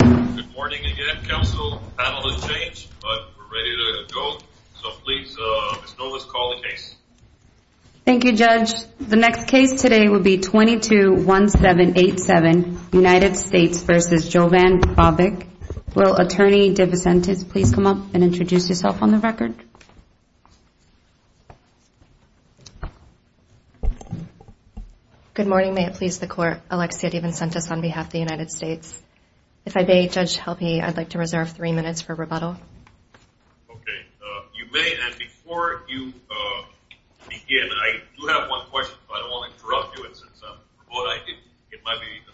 Good morning again, counsel. The panel has changed, but we're ready to go. So please, Ms. Nolas, call the case. Thank you, Judge. The next case today will be 22-1787, United States v. Jovan Vavic. Will Attorney Divisentes please come up and introduce yourself on the record? Good morning, may it please the Court. Alexia Divisentes on behalf of the United States. If I may, Judge Helpe, I'd like to reserve three minutes for rebuttal. Okay. You may, and before you begin, I do have one question, but I don't want to interrupt you.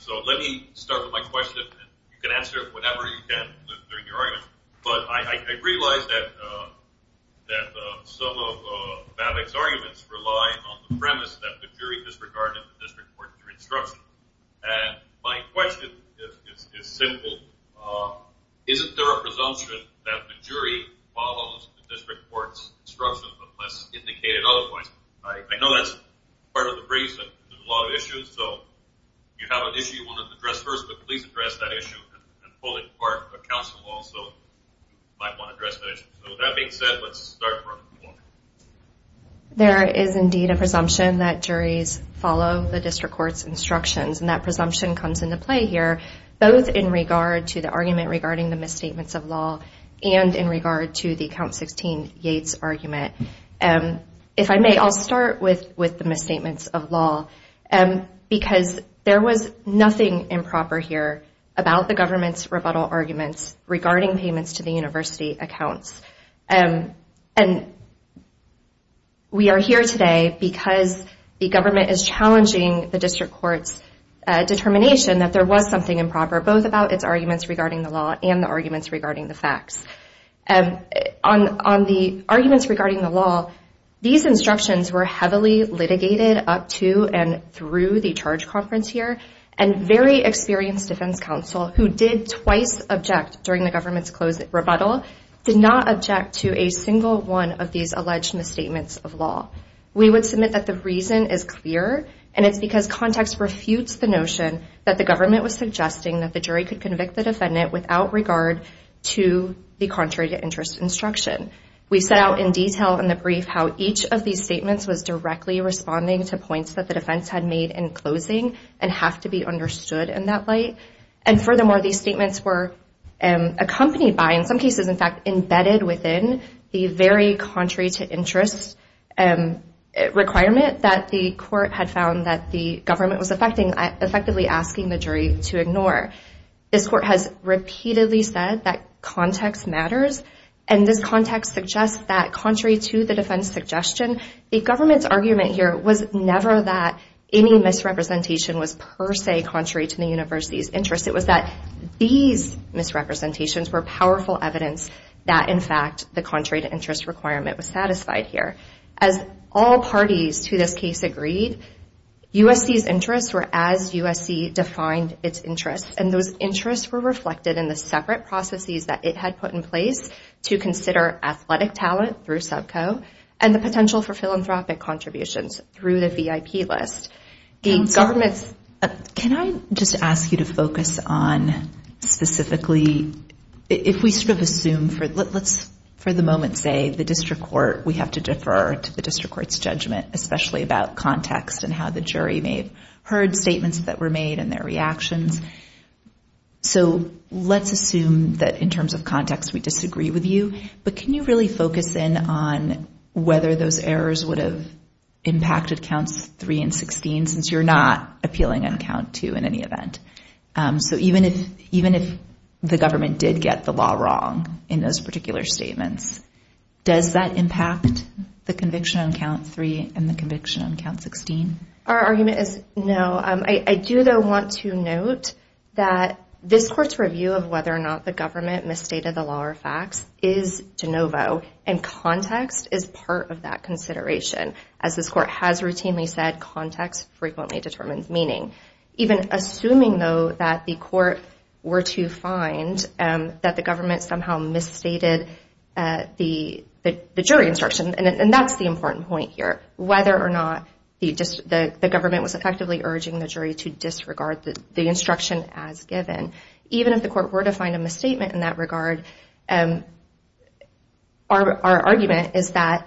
So let me start with my question, and you can answer it whenever you can during your argument. But I realize that some of Vavic's arguments rely on the premise that the jury disregarded the district court's instruction. And my question is simple. Isn't there a presumption that the jury follows the district court's instruction, but less indicated otherwise? I know that's part of the brief, but there's a lot of issues. So if you have an issue you want to address first, but please address that issue and pull it apart. But counsel also might want to address that issue. So with that being said, let's start from the floor. There is indeed a presumption that juries follow the district court's instructions, and that presumption comes into play here both in regard to the argument regarding the misstatements of law and in regard to the Count 16 Yates argument. If I may, I'll start with the misstatements of law, because there was nothing improper here about the government's rebuttal arguments regarding payments to the university accounts. And we are here today because the government is challenging the district court's determination that there was something improper, both about its arguments regarding the law and the arguments regarding the facts. On the arguments regarding the law, these instructions were heavily litigated up to and through the charge conference here, and very experienced defense counsel who did twice object during the government's closed rebuttal did not object to a single one of these alleged misstatements of law. We would submit that the reason is clear, and it's because context refutes the notion that the government was suggesting that the jury could convict the defendant without regard to the contrary to interest instruction. We set out in detail in the brief how each of these statements was directly responding to points that the defense had made in closing and have to be understood in that light. And furthermore, these statements were accompanied by, in some cases, in fact, embedded within the very contrary to interest requirement that the court had found that the government was effectively asking the jury to ignore. This court has repeatedly said that context matters, and this context suggests that contrary to the defense suggestion, the government's argument here was never that any misrepresentation was per se contrary to the university's interest. It was that these misrepresentations were powerful evidence that, in fact, the contrary to interest requirement was satisfied here. As all parties to this case agreed, USC's interests were as USC defined its interests, and those interests were reflected in the separate processes that it had put in place to consider athletic talent through subco, and the potential for philanthropic contributions through the VIP list. Can I just ask you to focus on specifically, if we sort of assume, let's for the moment say the district court, we have to defer to the district court's judgment, especially about context and how the jury may have heard statements that were made and their reactions, so let's assume that in terms of context we disagree with you, but can you really focus in on whether those errors would have impacted counts 3 and 16, since you're not appealing on count 2 in any event? So even if the government did get the law wrong in those particular statements, does that impact the conviction on count 3 and the conviction on count 16? Our argument is no. I do, though, want to note that this court's review of whether or not the government misstated the law or facts is de novo, and context is part of that consideration. As this court has routinely said, context frequently determines meaning. Even assuming, though, that the court were to find that the government somehow misstated the jury instruction, and that's the important point here, whether or not the government was effectively urging the jury to disregard the instruction as given. Even if the court were to find a misstatement in that regard, our argument is that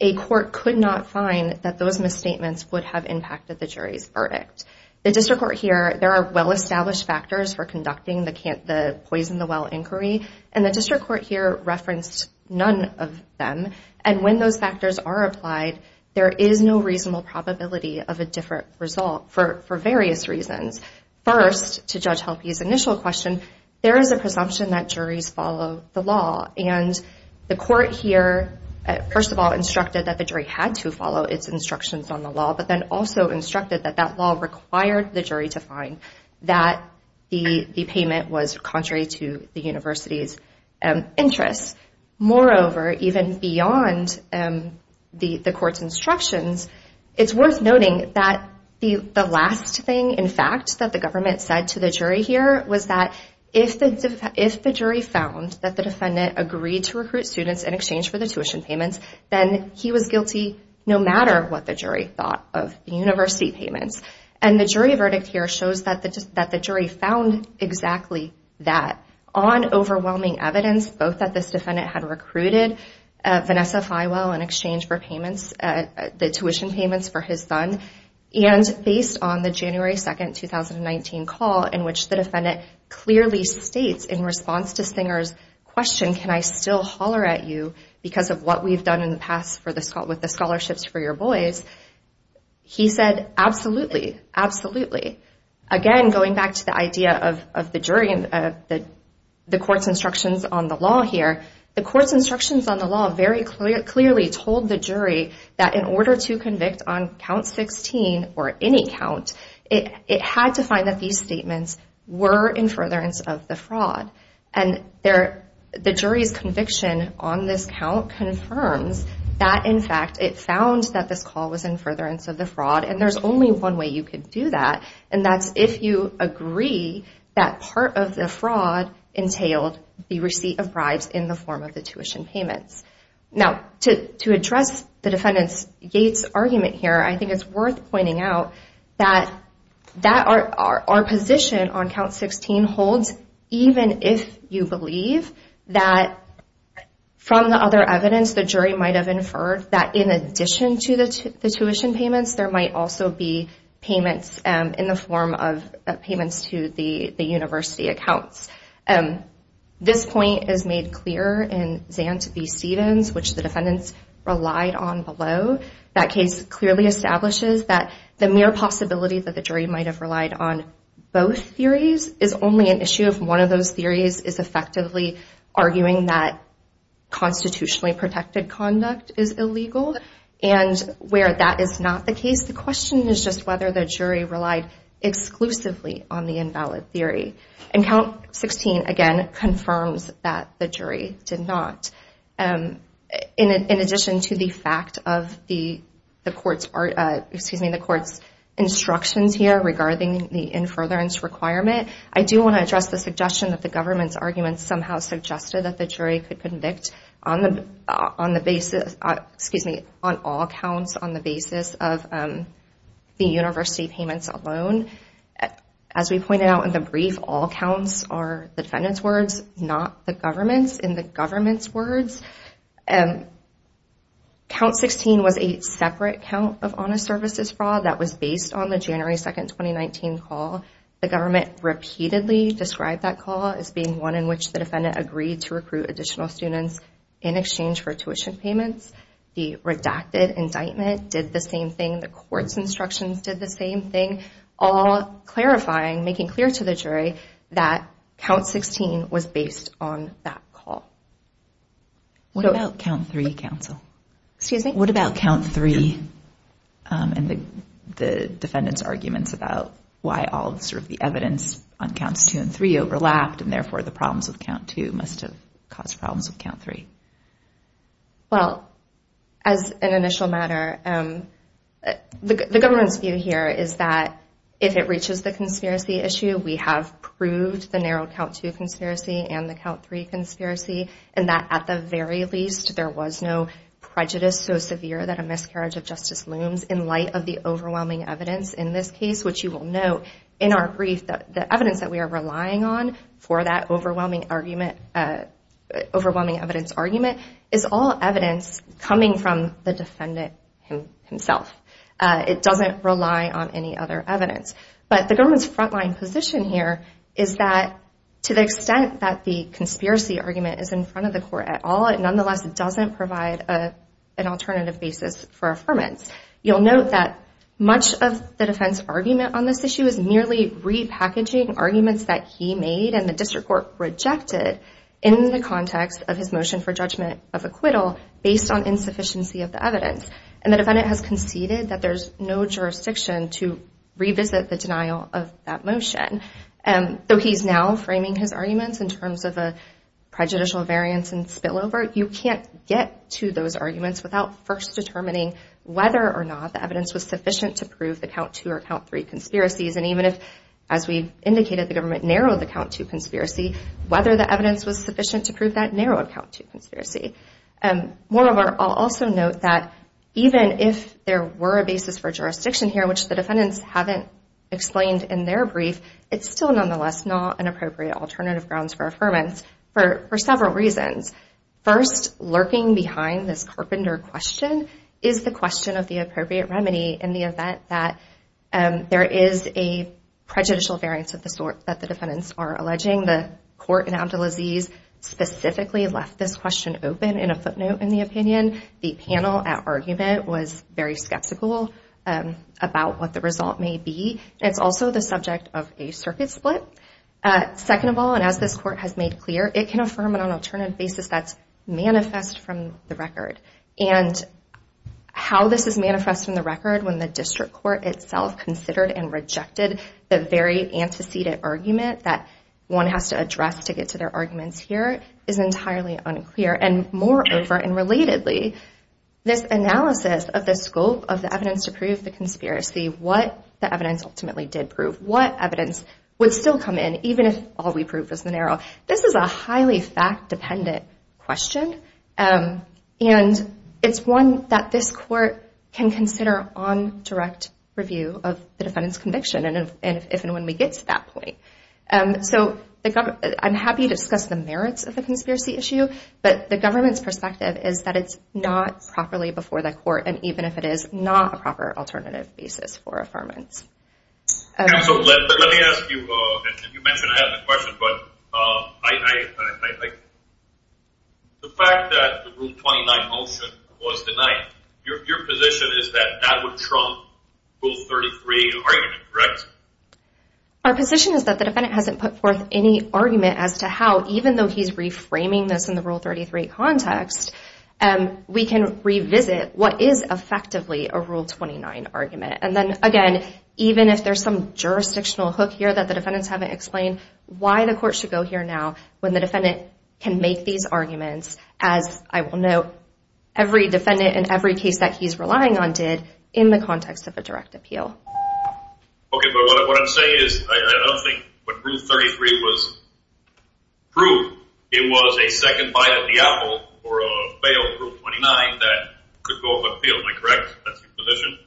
a court could not find that those misstatements would have impacted the jury's verdict. The district court here, there are well-established factors for conducting the poison the well inquiry, and the district court here referenced none of them. And when those factors are applied, there is no reasonable probability of a different result for various reasons. First, to Judge Helpe's initial question, there is a presumption that juries follow the law. And the court here, first of all, instructed that the jury had to follow its instructions on the law, but then also instructed that that law required the jury to find that the payment was contrary to the university's interests. Moreover, even beyond the court's instructions, it's worth noting that the last thing, in fact, that the government said to the jury here was that if the jury found that the defendant agreed to recruit students in exchange for the tuition payments, then he was guilty no matter what the jury thought of the university payments. And the jury verdict here shows that the jury found exactly that. On overwhelming evidence, both that this defendant had recruited Vanessa Highwell in exchange for payments, the tuition payments for his son, and based on the January 2, 2019, call in which the defendant clearly states in response to Stenger's question, can I still holler at you because of what we've done in the past with the scholarships for your boys, he said, absolutely, absolutely. Again, going back to the idea of the jury and the court's instructions on the law here, the court's instructions on the law very clearly told the jury that in order to convict on count 16 or any count, it had to find that these statements were in furtherance of the fraud. And the jury's conviction on this count confirms that, in fact, it found that this call was in furtherance of the fraud, and there's only one way you could do that, and that's if you agree that part of the fraud entailed the receipt of bribes in the form of the tuition payments. Now, to address the defendant's argument here, I think it's worth pointing out that our position on count 16 holds, even if you believe that from the other evidence, the jury might have inferred that in addition to the tuition payments, there might also be payments in the form of payments to the university accounts. This point is made clear in Zant v. Stevens, which the defendants relied on below. That case clearly establishes that the mere possibility that the jury might have relied on both theories is only an issue if one of those theories is effectively arguing that constitutionally protected conduct is illegal. And where that is not the case, the question is just whether the jury relied exclusively on the invalid theory. And count 16, again, confirms that the jury did not. In addition to the fact of the court's instructions here regarding the in furtherance requirement, I do want to address the suggestion that the government's argument somehow suggested that the jury could convict on all counts on the basis of the university payments alone. As we pointed out in the brief, all counts are the defendant's words, not the government's. In the government's words, count 16 was a separate count of honest services fraud that was based on the January 2, 2019 call. The government repeatedly described that call as being one in which the defendant agreed to recruit additional students in exchange for tuition payments. The redacted indictment did the same thing. The court's instructions did the same thing. All clarifying, making clear to the jury that count 16 was based on that call. What about count 3, counsel? Excuse me? What about count 3 and the defendant's arguments about why all sort of the evidence on counts 2 and 3 overlapped and therefore the problems with count 2 must have caused problems with count 3? Well, as an initial matter, the government's view here is that if it reaches the conspiracy issue, we have proved the narrow count 2 conspiracy and the count 3 conspiracy and that at the very least, there was no prejudice so severe that a miscarriage of justice looms in light of the overwhelming evidence in this case, which you will note in our brief that the evidence that we are relying on for that overwhelming argument, overwhelming evidence argument, is all evidence coming from the defendant himself. It doesn't rely on any other evidence. But the government's frontline position here is that to the extent that the conspiracy argument is in front of the court at all, it nonetheless doesn't provide an alternative basis for affirmance. You'll note that much of the defense argument on this issue is merely repackaging arguments that he made and the district court rejected in the context of his motion for judgment of acquittal based on insufficiency of the evidence. And the defendant has conceded that there's no jurisdiction to revisit the denial of that motion. Though he's now framing his arguments in terms of a prejudicial variance and spillover, you can't get to those arguments without first determining whether or not the evidence was sufficient to prove the count 2 or count 3 conspiracies. And even if, as we've indicated, the government narrowed the count 2 conspiracy, whether the evidence was sufficient to prove that narrowed count 2 conspiracy. Moreover, I'll also note that even if there were a basis for jurisdiction here, which the defendants haven't explained in their brief, it's still nonetheless not an appropriate alternative grounds for affirmance for several reasons. First, lurking behind this carpenter question is the question of the appropriate remedy in the event that there is a prejudicial variance of the sort that the defendants are alleging. The court in Abdulaziz specifically left this question open in a footnote in the opinion. The panel at argument was very skeptical about what the result may be. It's also the subject of a circuit split. Second of all, and as this court has made clear, it can affirm it on an alternative basis that's manifest from the record. And how this is manifest from the record when the district court itself considered and rejected the very antecedent argument that one has to address to get to their arguments here is entirely unclear. And moreover, and relatedly, this analysis of the scope of the evidence to prove the conspiracy, what the evidence ultimately did prove, what evidence would still come in, even if all we prove is the narrow. This is a highly fact dependent question. And it's one that this court can consider on direct review of the defendant's conviction. And if and when we get to that point. So I'm happy to discuss the merits of the conspiracy issue. But the government's perspective is that it's not properly before the court. And even if it is, not a proper alternative basis for affirmance. So let me ask you, and you mentioned I had a question, but the fact that the Rule 29 motion was denied, your position is that that would trump Rule 33 argument, correct? Our position is that the defendant hasn't put forth any argument as to how, even though he's reframing this in the Rule 33 context, we can revisit what is effectively a Rule 29 argument. And then again, even if there's some jurisdictional hook here that the defendants haven't explained, why the court should go here now when the defendant can make these arguments, as I will note, every defendant in every case that he's relying on did in the context of a direct appeal. Okay, but what I'm saying is, I don't think when Rule 33 was approved, it was a second bite of the apple for a failed Rule 29 that could go up in the field, am I correct? That's your position?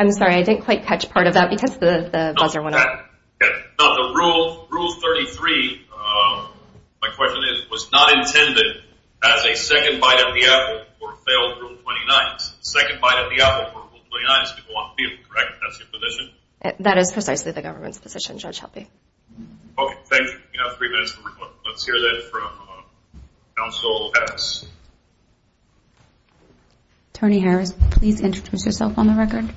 I'm sorry, I didn't quite catch part of that because the buzzer went off. No, the Rule 33, my question is, was not intended as a second bite of the apple for a failed Rule 29. It's a second bite of the apple for a Rule 29 that's going to go up in the field, correct? That's your position? That is precisely the government's position, Judge Helpe. Okay, thank you. You have three minutes for rebuttal. Let's hear that from counsel Harris. Attorney Harris, please introduce yourself on the record.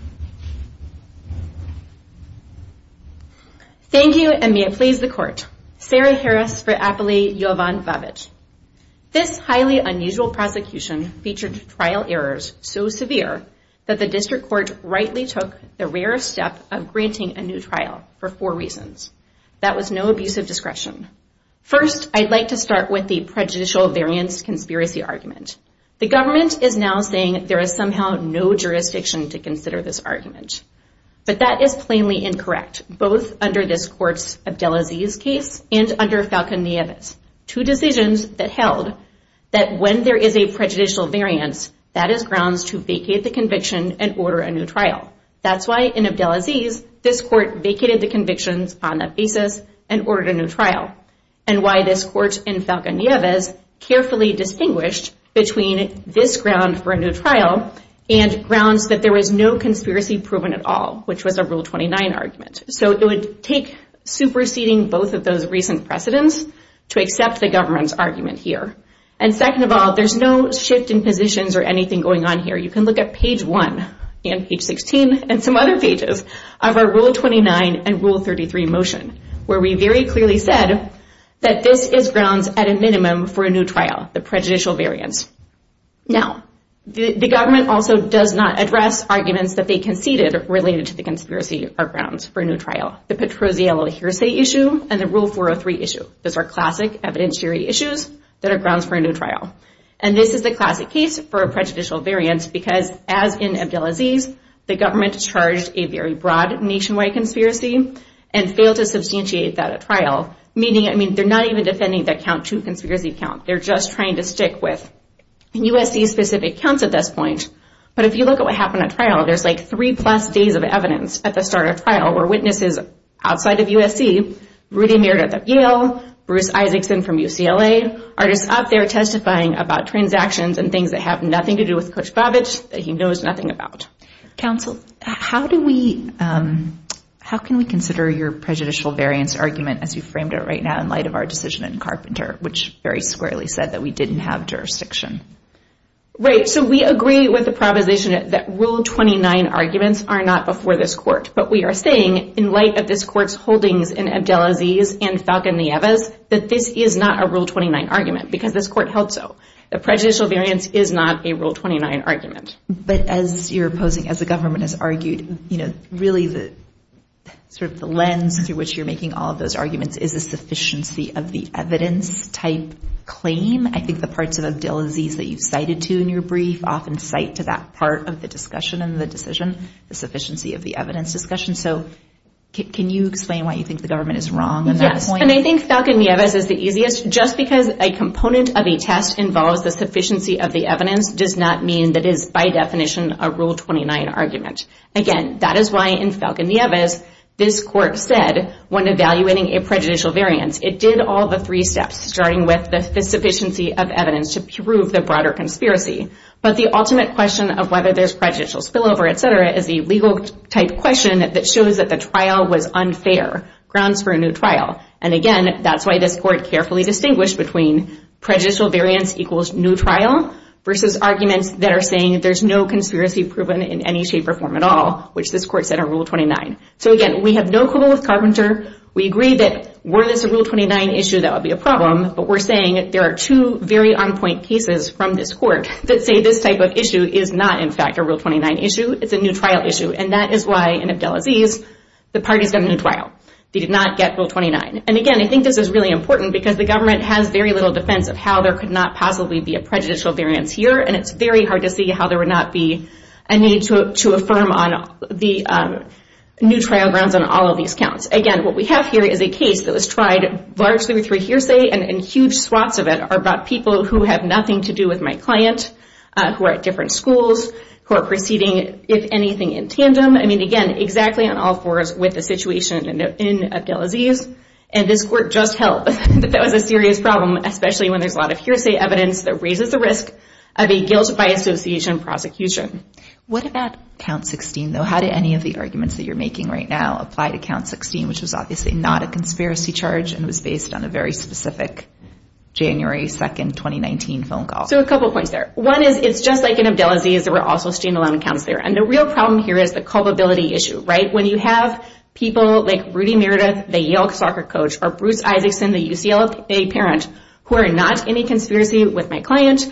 Thank you, and may it please the court. Sarah Harris for Appellee Jovanvavich. This highly unusual prosecution featured trial errors so severe that the District Court rightly took the rarest step of granting a new trial for four reasons. That was no abuse of discretion. First, I'd like to start with the prejudicial variance conspiracy argument. The government is now saying there is somehow no jurisdiction to consider this argument. But that is plainly incorrect, both under this court's Abdelaziz case and under Falcon-Nieves. Two decisions that held that when there is a prejudicial variance, that is grounds to vacate the conviction and order a new trial. That's why in Abdelaziz, this court vacated the convictions on that basis and ordered a new trial, and why this court in Falcon-Nieves carefully distinguished between this ground for a new trial and grounds that there was no conspiracy proven at all, which was a Rule 29 argument. So it would take superseding both of those recent precedents to accept the government's argument here. And second of all, there's no shift in positions or anything going on here. You can look at page 1 and page 16 and some other pages of our Rule 29 and Rule 33 motion, where we very clearly said that this is grounds at a minimum for a new trial, the prejudicial variance. Now, the government also does not address arguments that they conceded related to the conspiracy or grounds for a new trial. The Petrozzello hearsay issue and the Rule 403 issue. Those are classic evidentiary issues that are grounds for a new trial. And this is the classic case for a prejudicial variance because, as in Abdelaziz, the government charged a very broad nationwide conspiracy and failed to substantiate that at trial, meaning, I mean, they're not even defending the count to conspiracy count. They're just trying to stick with USC-specific counts at this point. But if you look at what happened at trial, there's like three-plus days of evidence at the start of trial where witnesses outside of USC, Rudy Meir at Yale, Bruce Isaacson from UCLA, are just up there testifying about transactions and things that have nothing to do with Coach Babich, that he knows nothing about. Counsel, how can we consider your prejudicial variance argument as you framed it right now in light of our decision in Carpenter, which very squarely said that we didn't have jurisdiction? Right. So we agree with the proposition that Rule 29 arguments are not before this court. But we are saying, in light of this court's holdings in Abdelaziz and Falcon Nieves, that this is not a Rule 29 argument because this court held so. The prejudicial variance is not a Rule 29 argument. But as you're opposing, as the government has argued, you know, really sort of the lens through which you're making all of those arguments is the sufficiency of the evidence type claim. I think the parts of Abdelaziz that you've cited to in your brief often cite to that part of the discussion and the decision, the sufficiency of the evidence discussion. So can you explain why you think the government is wrong on that point? Yes, and I think Falcon Nieves is the easiest. Just because a component of a test involves the sufficiency of the evidence does not mean that it is by definition a Rule 29 argument. Again, that is why in Falcon Nieves, this court said, when evaluating a prejudicial variance, it did all the three steps, starting with the sufficiency of evidence to prove the broader conspiracy. But the ultimate question of whether there's prejudicial spillover, etc., is the legal type question that shows that the trial was unfair, grounds for a new trial. And again, that's why this court carefully distinguished between prejudicial variance equals new trial versus arguments that are saying there's no conspiracy proven in any shape or form at all, which this court said are Rule 29. So again, we have no quibble with Carpenter. We agree that were this a Rule 29 issue, that would be a problem, but we're saying there are two very on-point cases from this court that say this type of issue is not, in fact, a Rule 29 issue. It's a new trial issue, and that is why in Abdelaziz, the parties got a new trial. They did not get Rule 29. And again, I think this is really important because the government has very little defense of how there could not possibly be a prejudicial variance here, and it's very hard to see how there would not be a need to affirm on the new trial grounds on all of these counts. Again, what we have here is a case that was tried largely through hearsay, and huge swaths of it are about people who have nothing to do with my client, who are at different schools, who are proceeding, if anything, in tandem. I mean, again, exactly on all fours with the situation in Abdelaziz. And this court just held that that was a serious problem, especially when there's a lot of hearsay evidence that raises the risk of a guilt-by-association prosecution. What about Count 16, though? How did any of the arguments that you're making right now apply to Count 16, which was obviously not a conspiracy charge and was based on a very specific January 2, 2019, phone call? So a couple points there. One is it's just like in Abdelaziz. There were also standalone accounts there. And the real problem here is the culpability issue, right? When you have people like Rudy Meredith, the Yale soccer coach, or Bruce Isaacson, the UCLA parent, who are not in a conspiracy with my client,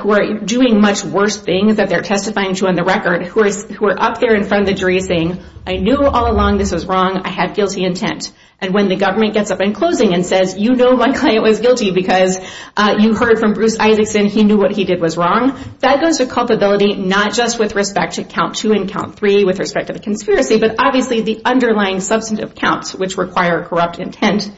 who are doing much worse things than they're testifying to on the record, who are up there in front of the jury saying, I knew all along this was wrong. I had guilty intent. And when the government gets up in closing and says, you know my client was guilty because you heard from Bruce Isaacson. He knew what he did was wrong. That goes to culpability not just with respect to Count 2 and Count 3 with respect to the conspiracy, but obviously the underlying substantive counts, which require corrupt intent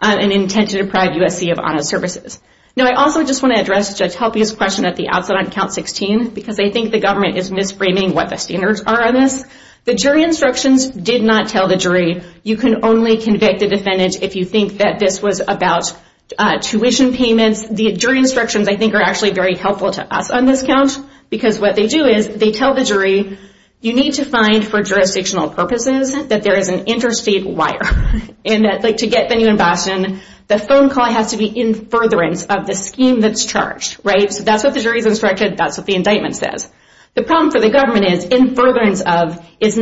and intent to deprive USC of honor services. Now I also just want to address Judge Helpy's question at the outset on Count 16 because I think the government is misframing what the standards are on this. The jury instructions did not tell the jury, you can only convict a defendant if you think that this was about tuition payments. The jury instructions, I think, are actually very helpful to us on this count because what they do is they tell the jury, you need to find for jurisdictional purposes that there is an interstate wire. And to get venue in Boston, the phone call has to be in furtherance of the scheme that's charged. So that's what the jury's instruction, that's what the indictment says. The problem for the government is in furtherance of is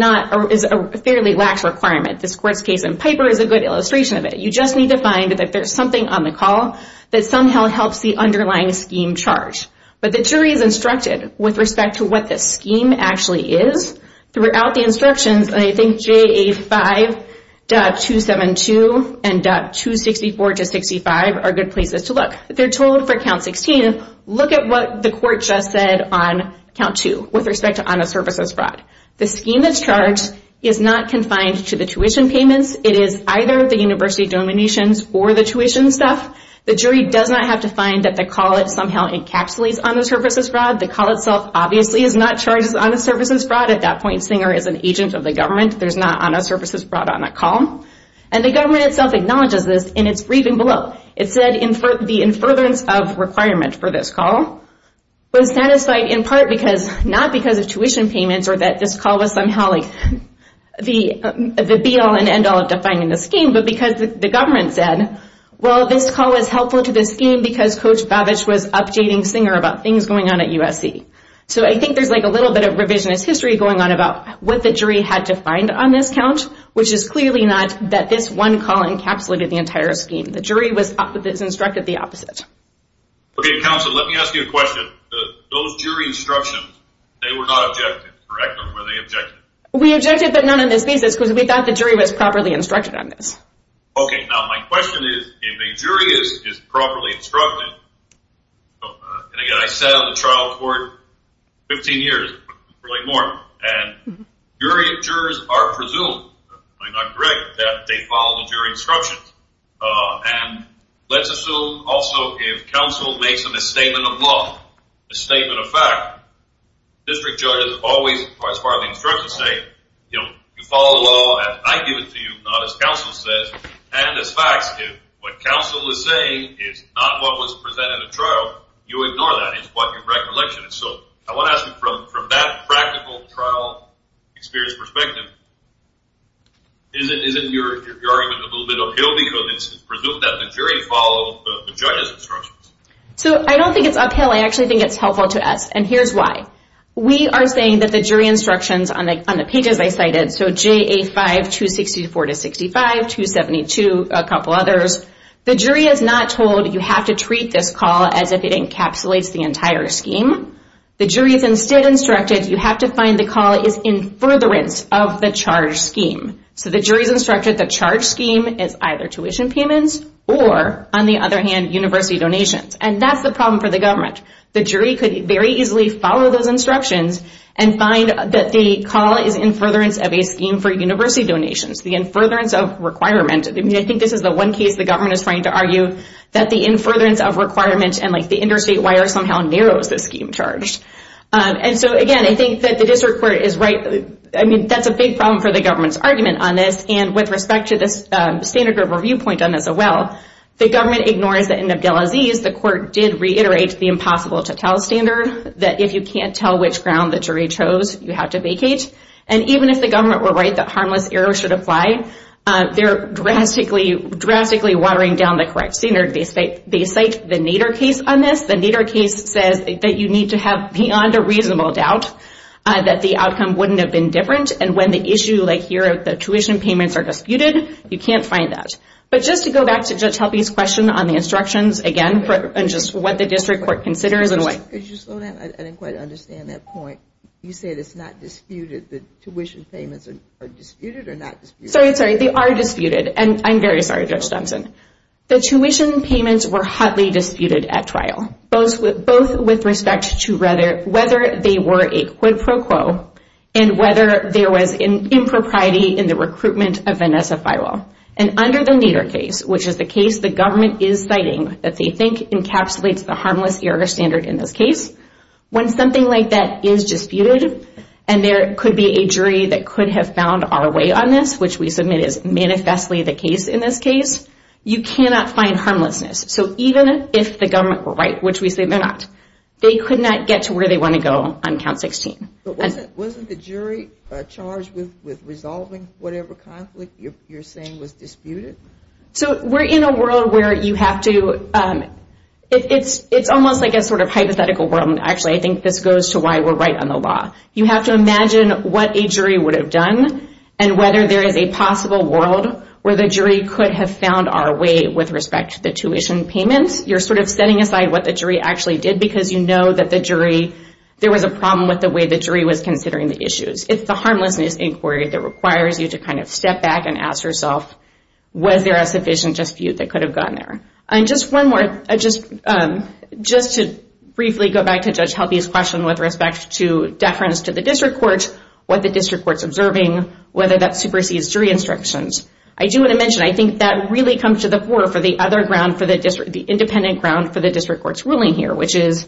a fairly lax requirement. This court's case in Piper is a good illustration of it. You just need to find that there's something on the call that somehow helps the underlying scheme charge. But the jury is instructed with respect to what the scheme actually is. Throughout the instructions, I think JA 5.272 and .264-65 are good places to look. They're told for Count 16, look at what the court just said on Count 2 with respect to honest services fraud. The scheme that's charged is not confined to the tuition payments. It is either the university donations or the tuition stuff. The jury does not have to find that the call somehow encapsulates honest services fraud. The call itself obviously is not charged as honest services fraud. At that point, Singer is an agent of the government. There's not honest services fraud on that call. And the government itself acknowledges this in its briefing below. It said the in furtherance of requirement for this call was satisfied in part not because of tuition payments or that this call was somehow the be-all and end-all of defining the scheme, but because the government said, well, this call is helpful to this scheme because Coach Babich was updating Singer about things going on at USC. So I think there's like a little bit of revisionist history going on about what the jury had to find on this count, which is clearly not that this one call encapsulated the entire scheme. The jury was instructed the opposite. Okay, counsel, let me ask you a question. Those jury instructions, they were not objected, correct? Or were they objected? We objected but not on this basis because we thought the jury was properly instructed on this. Okay, now my question is, if a jury is properly instructed, and again, I sat on the trial court 15 years, probably more, and jury jurors are presumed, if I'm not correct, that they follow the jury instructions. And let's assume also if counsel makes a misstatement of law, a statement of fact, district judges always, as far as the instructions say, you follow the law as I give it to you, not as counsel says, and as facts, if what counsel is saying is not what was presented at trial, you ignore that. It's what your recollection is. So I want to ask you from that practical trial experience perspective, isn't your argument a little bit uphill because it's presumed that the jury followed the judge's instructions? So I don't think it's uphill. I actually think it's helpful to us, and here's why. We are saying that the jury instructions on the pages I cited, so JA5-264-65, 272, a couple others, the jury is not told you have to treat this call as if it encapsulates the entire scheme. The jury is instead instructed you have to find the call is in furtherance of the charge scheme. So the jury is instructed the charge scheme is either tuition payments or, on the other hand, university donations, and that's the problem for the government. The jury could very easily follow those instructions and find that the call is in furtherance of a scheme for university donations, the in furtherance of requirement. I mean, I think this is the one case the government is trying to argue that the in furtherance of requirements and the interstate wire somehow narrows the scheme charge. And so, again, I think that the district court is right. I mean, that's a big problem for the government's argument on this, and with respect to this standard group review point on this as well, the government ignores that in Abdelaziz, the court did reiterate the impossible-to-tell standard that if you can't tell which ground the jury chose, you have to vacate. And even if the government were right that harmless error should apply, they're drastically watering down the correct standard. They cite the Nader case on this. The Nader case says that you need to have beyond a reasonable doubt that the outcome wouldn't have been different, and when the issue like here of the tuition payments are disputed, you can't find that. But just to go back to Judge Helpe's question on the instructions, again, and just what the district court considers and what... Could you slow down? I didn't quite understand that point. You said it's not disputed that tuition payments are disputed or not disputed. Sorry, sorry, they are disputed, and I'm very sorry, Judge Stemsen. The tuition payments were hotly disputed at trial, both with respect to whether they were a quid pro quo and whether there was an impropriety in the recruitment of Vanessa Feierl. And under the Nader case, which is the case the government is citing that they think encapsulates the harmless error standard in this case, when something like that is disputed, and there could be a jury that could have found our way on this, which we submit is manifestly the case in this case, you cannot find harmlessness. So even if the government were right, which we say they're not, they could not get to where they want to go on Count 16. But wasn't the jury charged with resolving whatever conflict you're saying was disputed? So we're in a world where you have to... It's almost like a sort of hypothetical world, and actually I think this goes to why we're right on the law. You have to imagine what a jury would have done and whether there is a possible world where the jury could have found our way with respect to the tuition payments. You're sort of setting aside what the jury actually did because you know that the jury... There was a problem with the way the jury was considering the issues. It's the harmlessness inquiry that requires you to kind of step back and ask yourself, was there a sufficient dispute that could have gotten there? And just one more, just to briefly go back to Judge Helby's question with respect to deference to the district court, what the district court's observing, whether that supersedes jury instructions. I do want to mention, I think that really comes to the fore for the independent ground for the district court's ruling here, which is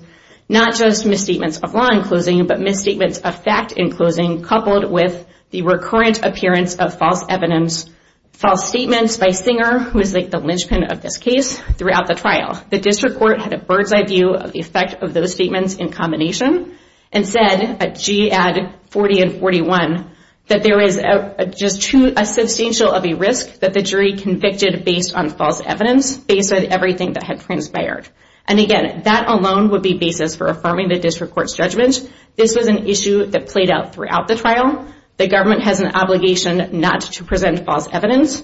not just misstatements of law in closing but misstatements of fact in closing coupled with the recurrent appearance of false evidence, false statements by Singer, who is like the linchpin of this case, throughout the trial. The district court had a bird's-eye view of the effect of those statements in combination and said at GAD 40 and 41 that there is just too substantial of a risk that the jury convicted based on false evidence, based on everything that had transpired. And again, that alone would be basis for affirming the district court's judgment. This was an issue that played out throughout the trial. The government has an obligation not to present false evidence.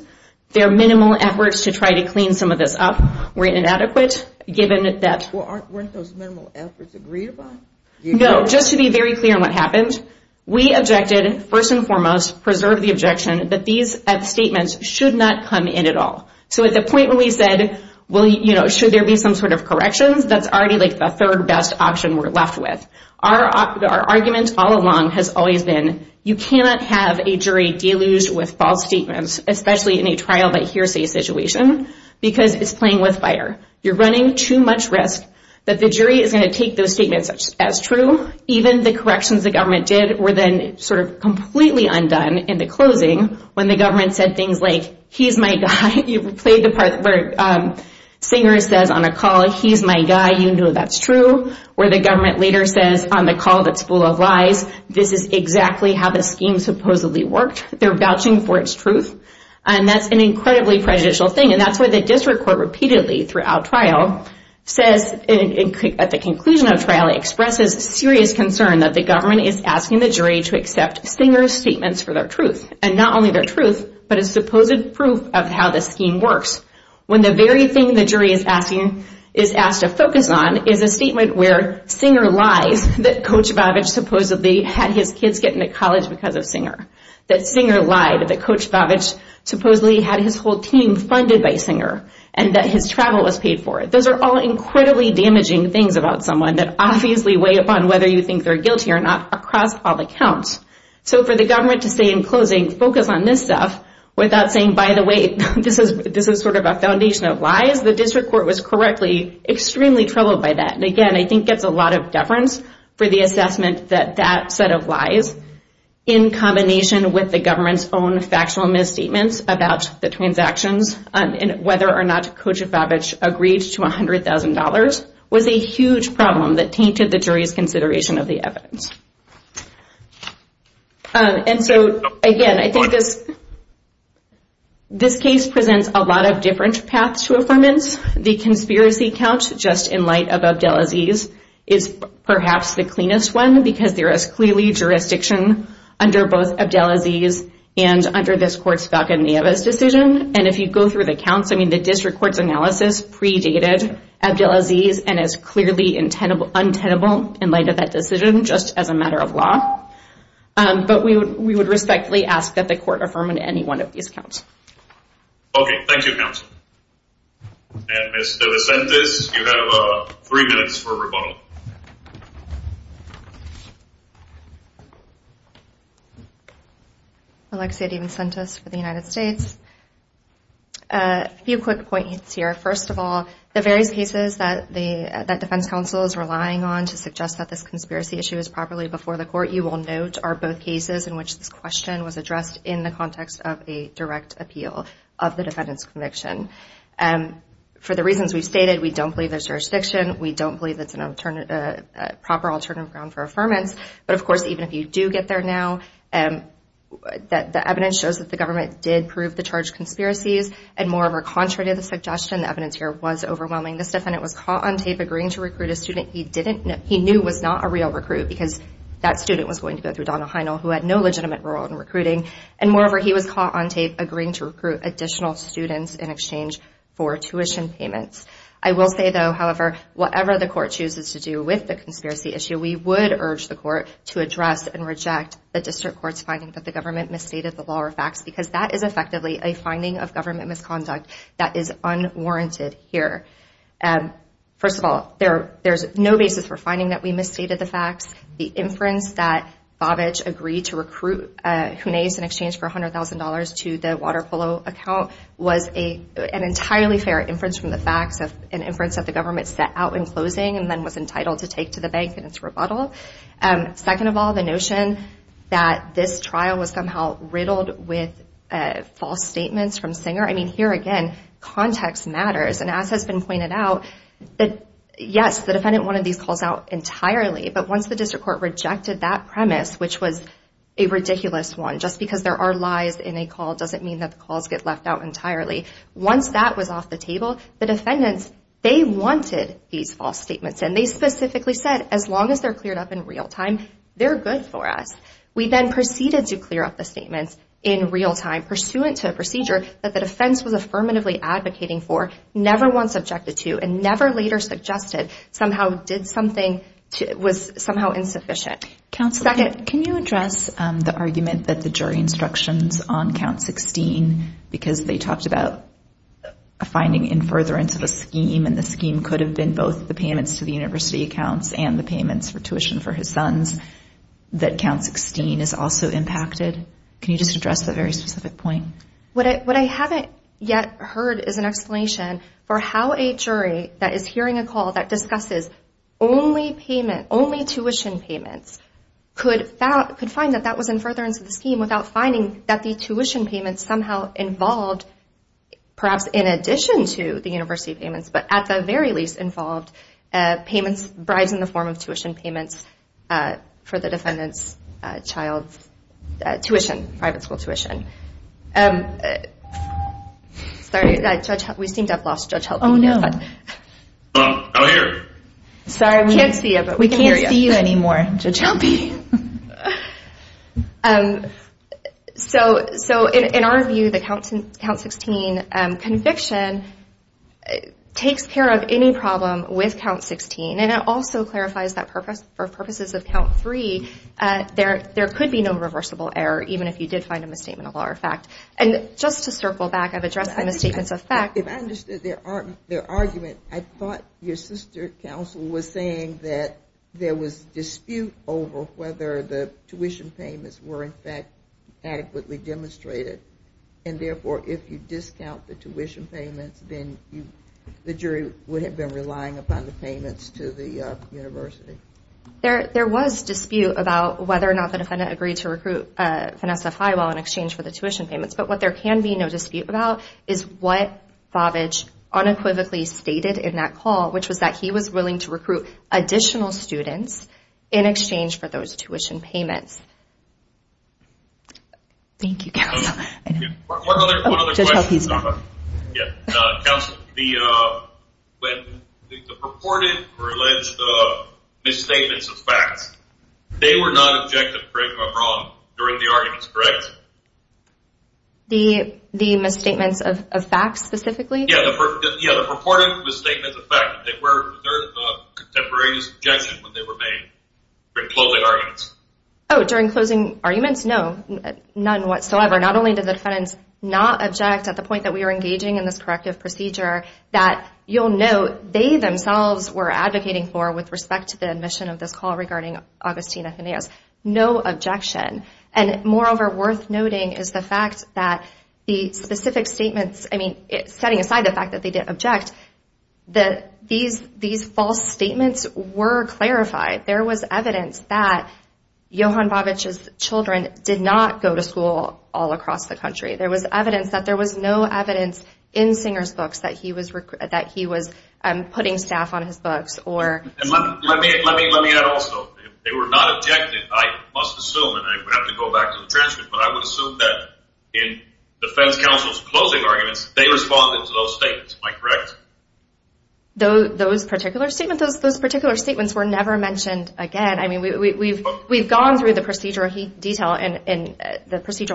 Their minimal efforts to try to clean some of this up were inadequate, given that... Well, weren't those minimal efforts agreed upon? No, just to be very clear on what happened, we objected, first and foremost, preserve the objection, that these statements should not come in at all. So at the point when we said, well, you know, should there be some sort of corrections, that's already like the third best option we're left with. Our argument all along has always been you cannot have a jury deluged with false statements, especially in a trial-by-hearsay situation, because it's playing with fire. You're running too much risk that the jury is going to take those statements as true, even the corrections the government did were then sort of completely undone in the closing when the government said things like, he's my guy, you played the part where Singer says on a call, he's my guy, you know that's true, where the government later says on the call that's full of lies, this is exactly how the scheme supposedly worked. They're vouching for its truth, and that's an incredibly prejudicial thing, and that's why the district court repeatedly throughout trial says at the conclusion of trial, expresses serious concern that the government is asking the jury to accept Singer's statements for their truth, and not only their truth, but a supposed proof of how the scheme works, when the very thing the jury is asked to focus on is a statement where Singer lies that Coach Babich supposedly had his kids get into college because of Singer, that Singer lied that Coach Babich supposedly had his whole team funded by Singer, and that his travel was paid for. Those are all incredibly damaging things about someone that obviously weigh upon whether you think they're guilty or not across all accounts. So for the government to say in closing, focus on this stuff, without saying, by the way, this is sort of a foundation of lies, the district court was correctly extremely troubled by that, and again, I think gets a lot of deference for the assessment that that set of lies, in combination with the government's own factual misstatements about the transactions, and whether or not Coach Babich agreed to $100,000, was a huge problem that tainted the jury's consideration of the evidence. And so, again, I think this case presents a lot of different paths to affirmance. The conspiracy count, just in light of Abdelaziz, is perhaps the cleanest one, because there is clearly jurisdiction under both Abdelaziz and under this court's Falcon Nieves decision, and if you go through the counts, I mean the district court's analysis predated Abdelaziz and is clearly untenable in light of that decision, just as a matter of law. But we would respectfully ask that the court affirm on any one of these counts. Okay, thank you, Counsel. And Ms. DeVincentes, you have three minutes for rebuttal. Alexi DeVincentes for the United States. A few quick points here. First of all, the various cases that Defense Counsel is relying on to suggest that this conspiracy issue is properly before the court, you will note, are both cases in which this question was addressed in the context of a direct appeal of the defendant's conviction. For the reasons we've stated, we don't believe there's jurisdiction, we don't believe it's a proper alternative ground for affirmance, but, of course, even if you do get there now, the evidence shows that the government did prove the charged conspiracies, and moreover, contrary to the suggestion, the evidence here was overwhelming. This defendant was caught on tape agreeing to recruit a student he knew was not a real recruit, because that student was going to go through Donald Heinel, who had no legitimate role in recruiting. And moreover, he was caught on tape agreeing to recruit additional students in exchange for tuition payments. I will say, though, however, whatever the court chooses to do with the conspiracy issue, we would urge the court to address and reject the district court's finding that the government misstated the law or facts, because that is effectively a finding of government misconduct that is unwarranted here. First of all, there's no basis for finding that we misstated the facts. The inference that Babich agreed to recruit Junaes in exchange for $100,000 to the Waterpolo account was an entirely fair inference from the facts, an inference that the government set out in closing and then was entitled to take to the bank in its rebuttal. Second of all, the notion that this trial was somehow riddled with false statements from Singer, I mean, here again, context matters. And as has been pointed out, yes, the defendant wanted these calls out entirely, but once the district court rejected that premise, which was a ridiculous one, just because there are lies in a call doesn't mean that the calls get left out entirely. Once that was off the table, the defendants, they wanted these false statements, and they specifically said as long as they're cleared up in real time, they're good for us. We then proceeded to clear up the statements in real time, pursuant to a procedure that the defense was affirmatively advocating for, never once objected to, and never later suggested somehow did something, was somehow insufficient. Counselor, can you address the argument that the jury instructions on Count 16, because they talked about a finding in furtherance of a scheme, and the scheme could have been both the payments to the university accounts and the payments for tuition for his sons, that Count 16 is also impacted? Can you just address that very specific point? What I haven't yet heard is an explanation for how a jury that is hearing a call that discusses only payment, only tuition payments, could find that that was in furtherance of the scheme without finding that the tuition payments somehow involved, perhaps in addition to the university payments, but at the very least involved, bribes in the form of tuition payments for the defendant's child's tuition, private school tuition. Sorry, we seem to have lost Judge Helpe. I'm here. Sorry, we can't see you anymore, Judge Helpe. So, in our view, the Count 16 conviction takes care of any problem with Count 16, and it also clarifies that for purposes of Count 3, there could be no reversible error, even if you did find a misstatement of law or fact. And just to circle back, I've addressed the misstatements of fact. If I understood their argument, I thought your sister counsel was saying that there was dispute over whether the tuition payments were, in fact, adequately demonstrated, and therefore, if you discount the tuition payments, then the jury would have been relying upon the payments to the university. There was dispute about whether or not the defendant agreed to recruit Vanessa Highwell in exchange for the tuition payments, but what there can be no dispute about is what Favage unequivocally stated in that call, which was that he was willing to recruit additional students in exchange for those tuition payments. Thank you, counsel. One other question. Counsel, when the purported or alleged misstatements of facts, they were not objective, correct, or wrong during the arguments, correct? The misstatements of facts, specifically? Yeah, the purported misstatements of facts. They were a contemporaneous objection when they were made during closing arguments. Oh, during closing arguments? No, none whatsoever. Not only did the defendants not object at the point that we were engaging in this corrective procedure, that you'll note they themselves were advocating for with respect to the admission of this call regarding Augustine Athenaeus. No objection, and moreover, worth noting is the fact that the specific statements, I mean, setting aside the fact that they didn't object, these false statements were clarified. There was evidence that Johan Bavic's children did not go to school all across the country. There was evidence that there was no evidence in Singer's books that he was putting staff on his books. Let me add also, they were not objective, I must assume, and I would have to go back to the transcript, but I would assume that in defense counsel's closing arguments, they responded to those statements, am I correct? Those particular statements were never mentioned again. I mean, we've gone through the procedural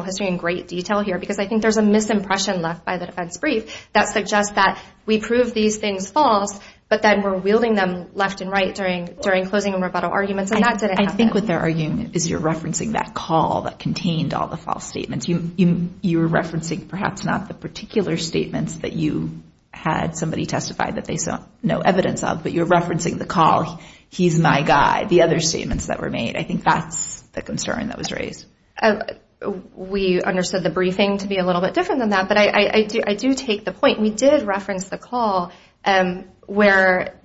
history in great detail here, because I think there's a misimpression left by the defense brief that suggests that we prove these things false, but then we're wielding them left and right during closing and rebuttal arguments, and that didn't happen. I think what they're arguing is you're referencing that call that contained all the false statements. You're referencing perhaps not the particular statements that you had somebody testify that they saw no evidence of, but you're referencing the call, he's my guy, the other statements that were made. I think that's the concern that was raised. We understood the briefing to be a little bit different than that, but I do take the point. We did reference the call where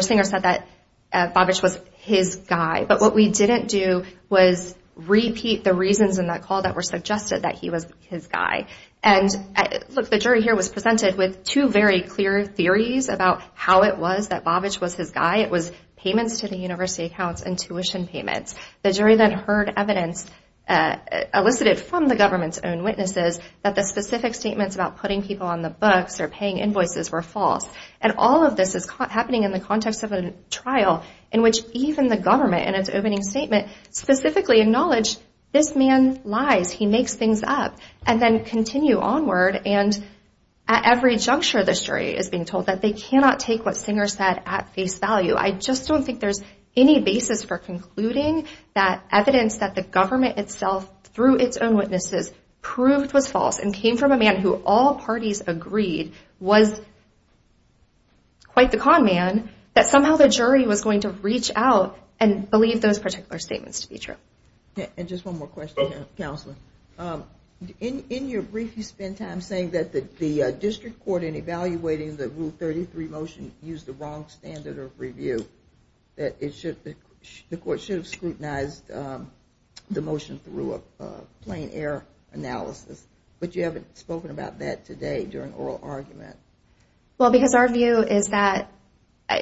Singer said that Bavic was his guy, but what we didn't do was repeat the reasons in that call that were suggested that he was his guy. The jury here was presented with two very clear theories about how it was that Bavic was his guy. It was payments to the university accounts and tuition payments. The jury then heard evidence elicited from the government's own witnesses that the specific statements about putting people on the books or paying invoices were false. All of this is happening in the context of a trial in which even the government, in its opening statement, specifically acknowledged this man lies, he makes things up and then continue onward. At every juncture, the jury is being told that they cannot take what Singer said at face value. I just don't think there's any basis for concluding that evidence that the government itself, through its own witnesses, proved was false and came from a man who all parties agreed was quite the con man, that somehow the jury was going to reach out and believe those particular statements to be true. Just one more question, Counselor. In your brief, you spend time saying that the district court, in evaluating the Rule 33 motion, used the wrong standard of review. The court should have scrutinized the motion through a plain air analysis, but you haven't spoken about that today during oral argument. Well, because our view is that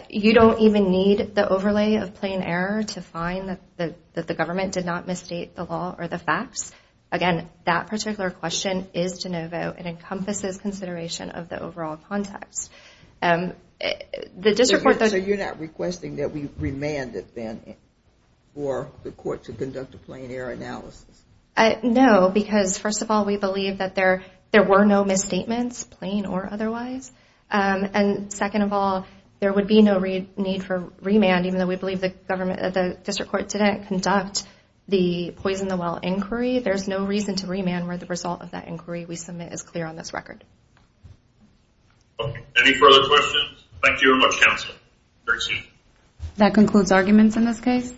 you don't even need the overlay of plain air to find that the government did not misstate the law or the facts. Again, that particular question is de novo and encompasses consideration of the overall context. So you're not requesting that we remand it then for the court to conduct a plain air analysis? No, because first of all, we believe that there were no misstatements, plain or otherwise. And second of all, there would be no need for remand, even though we believe the district court didn't conduct the Poison the Well inquiry. There's no reason to remand where the result of that inquiry we submit is clear on this record. Any further questions? Thank you very much, Counselor. That concludes arguments in this case.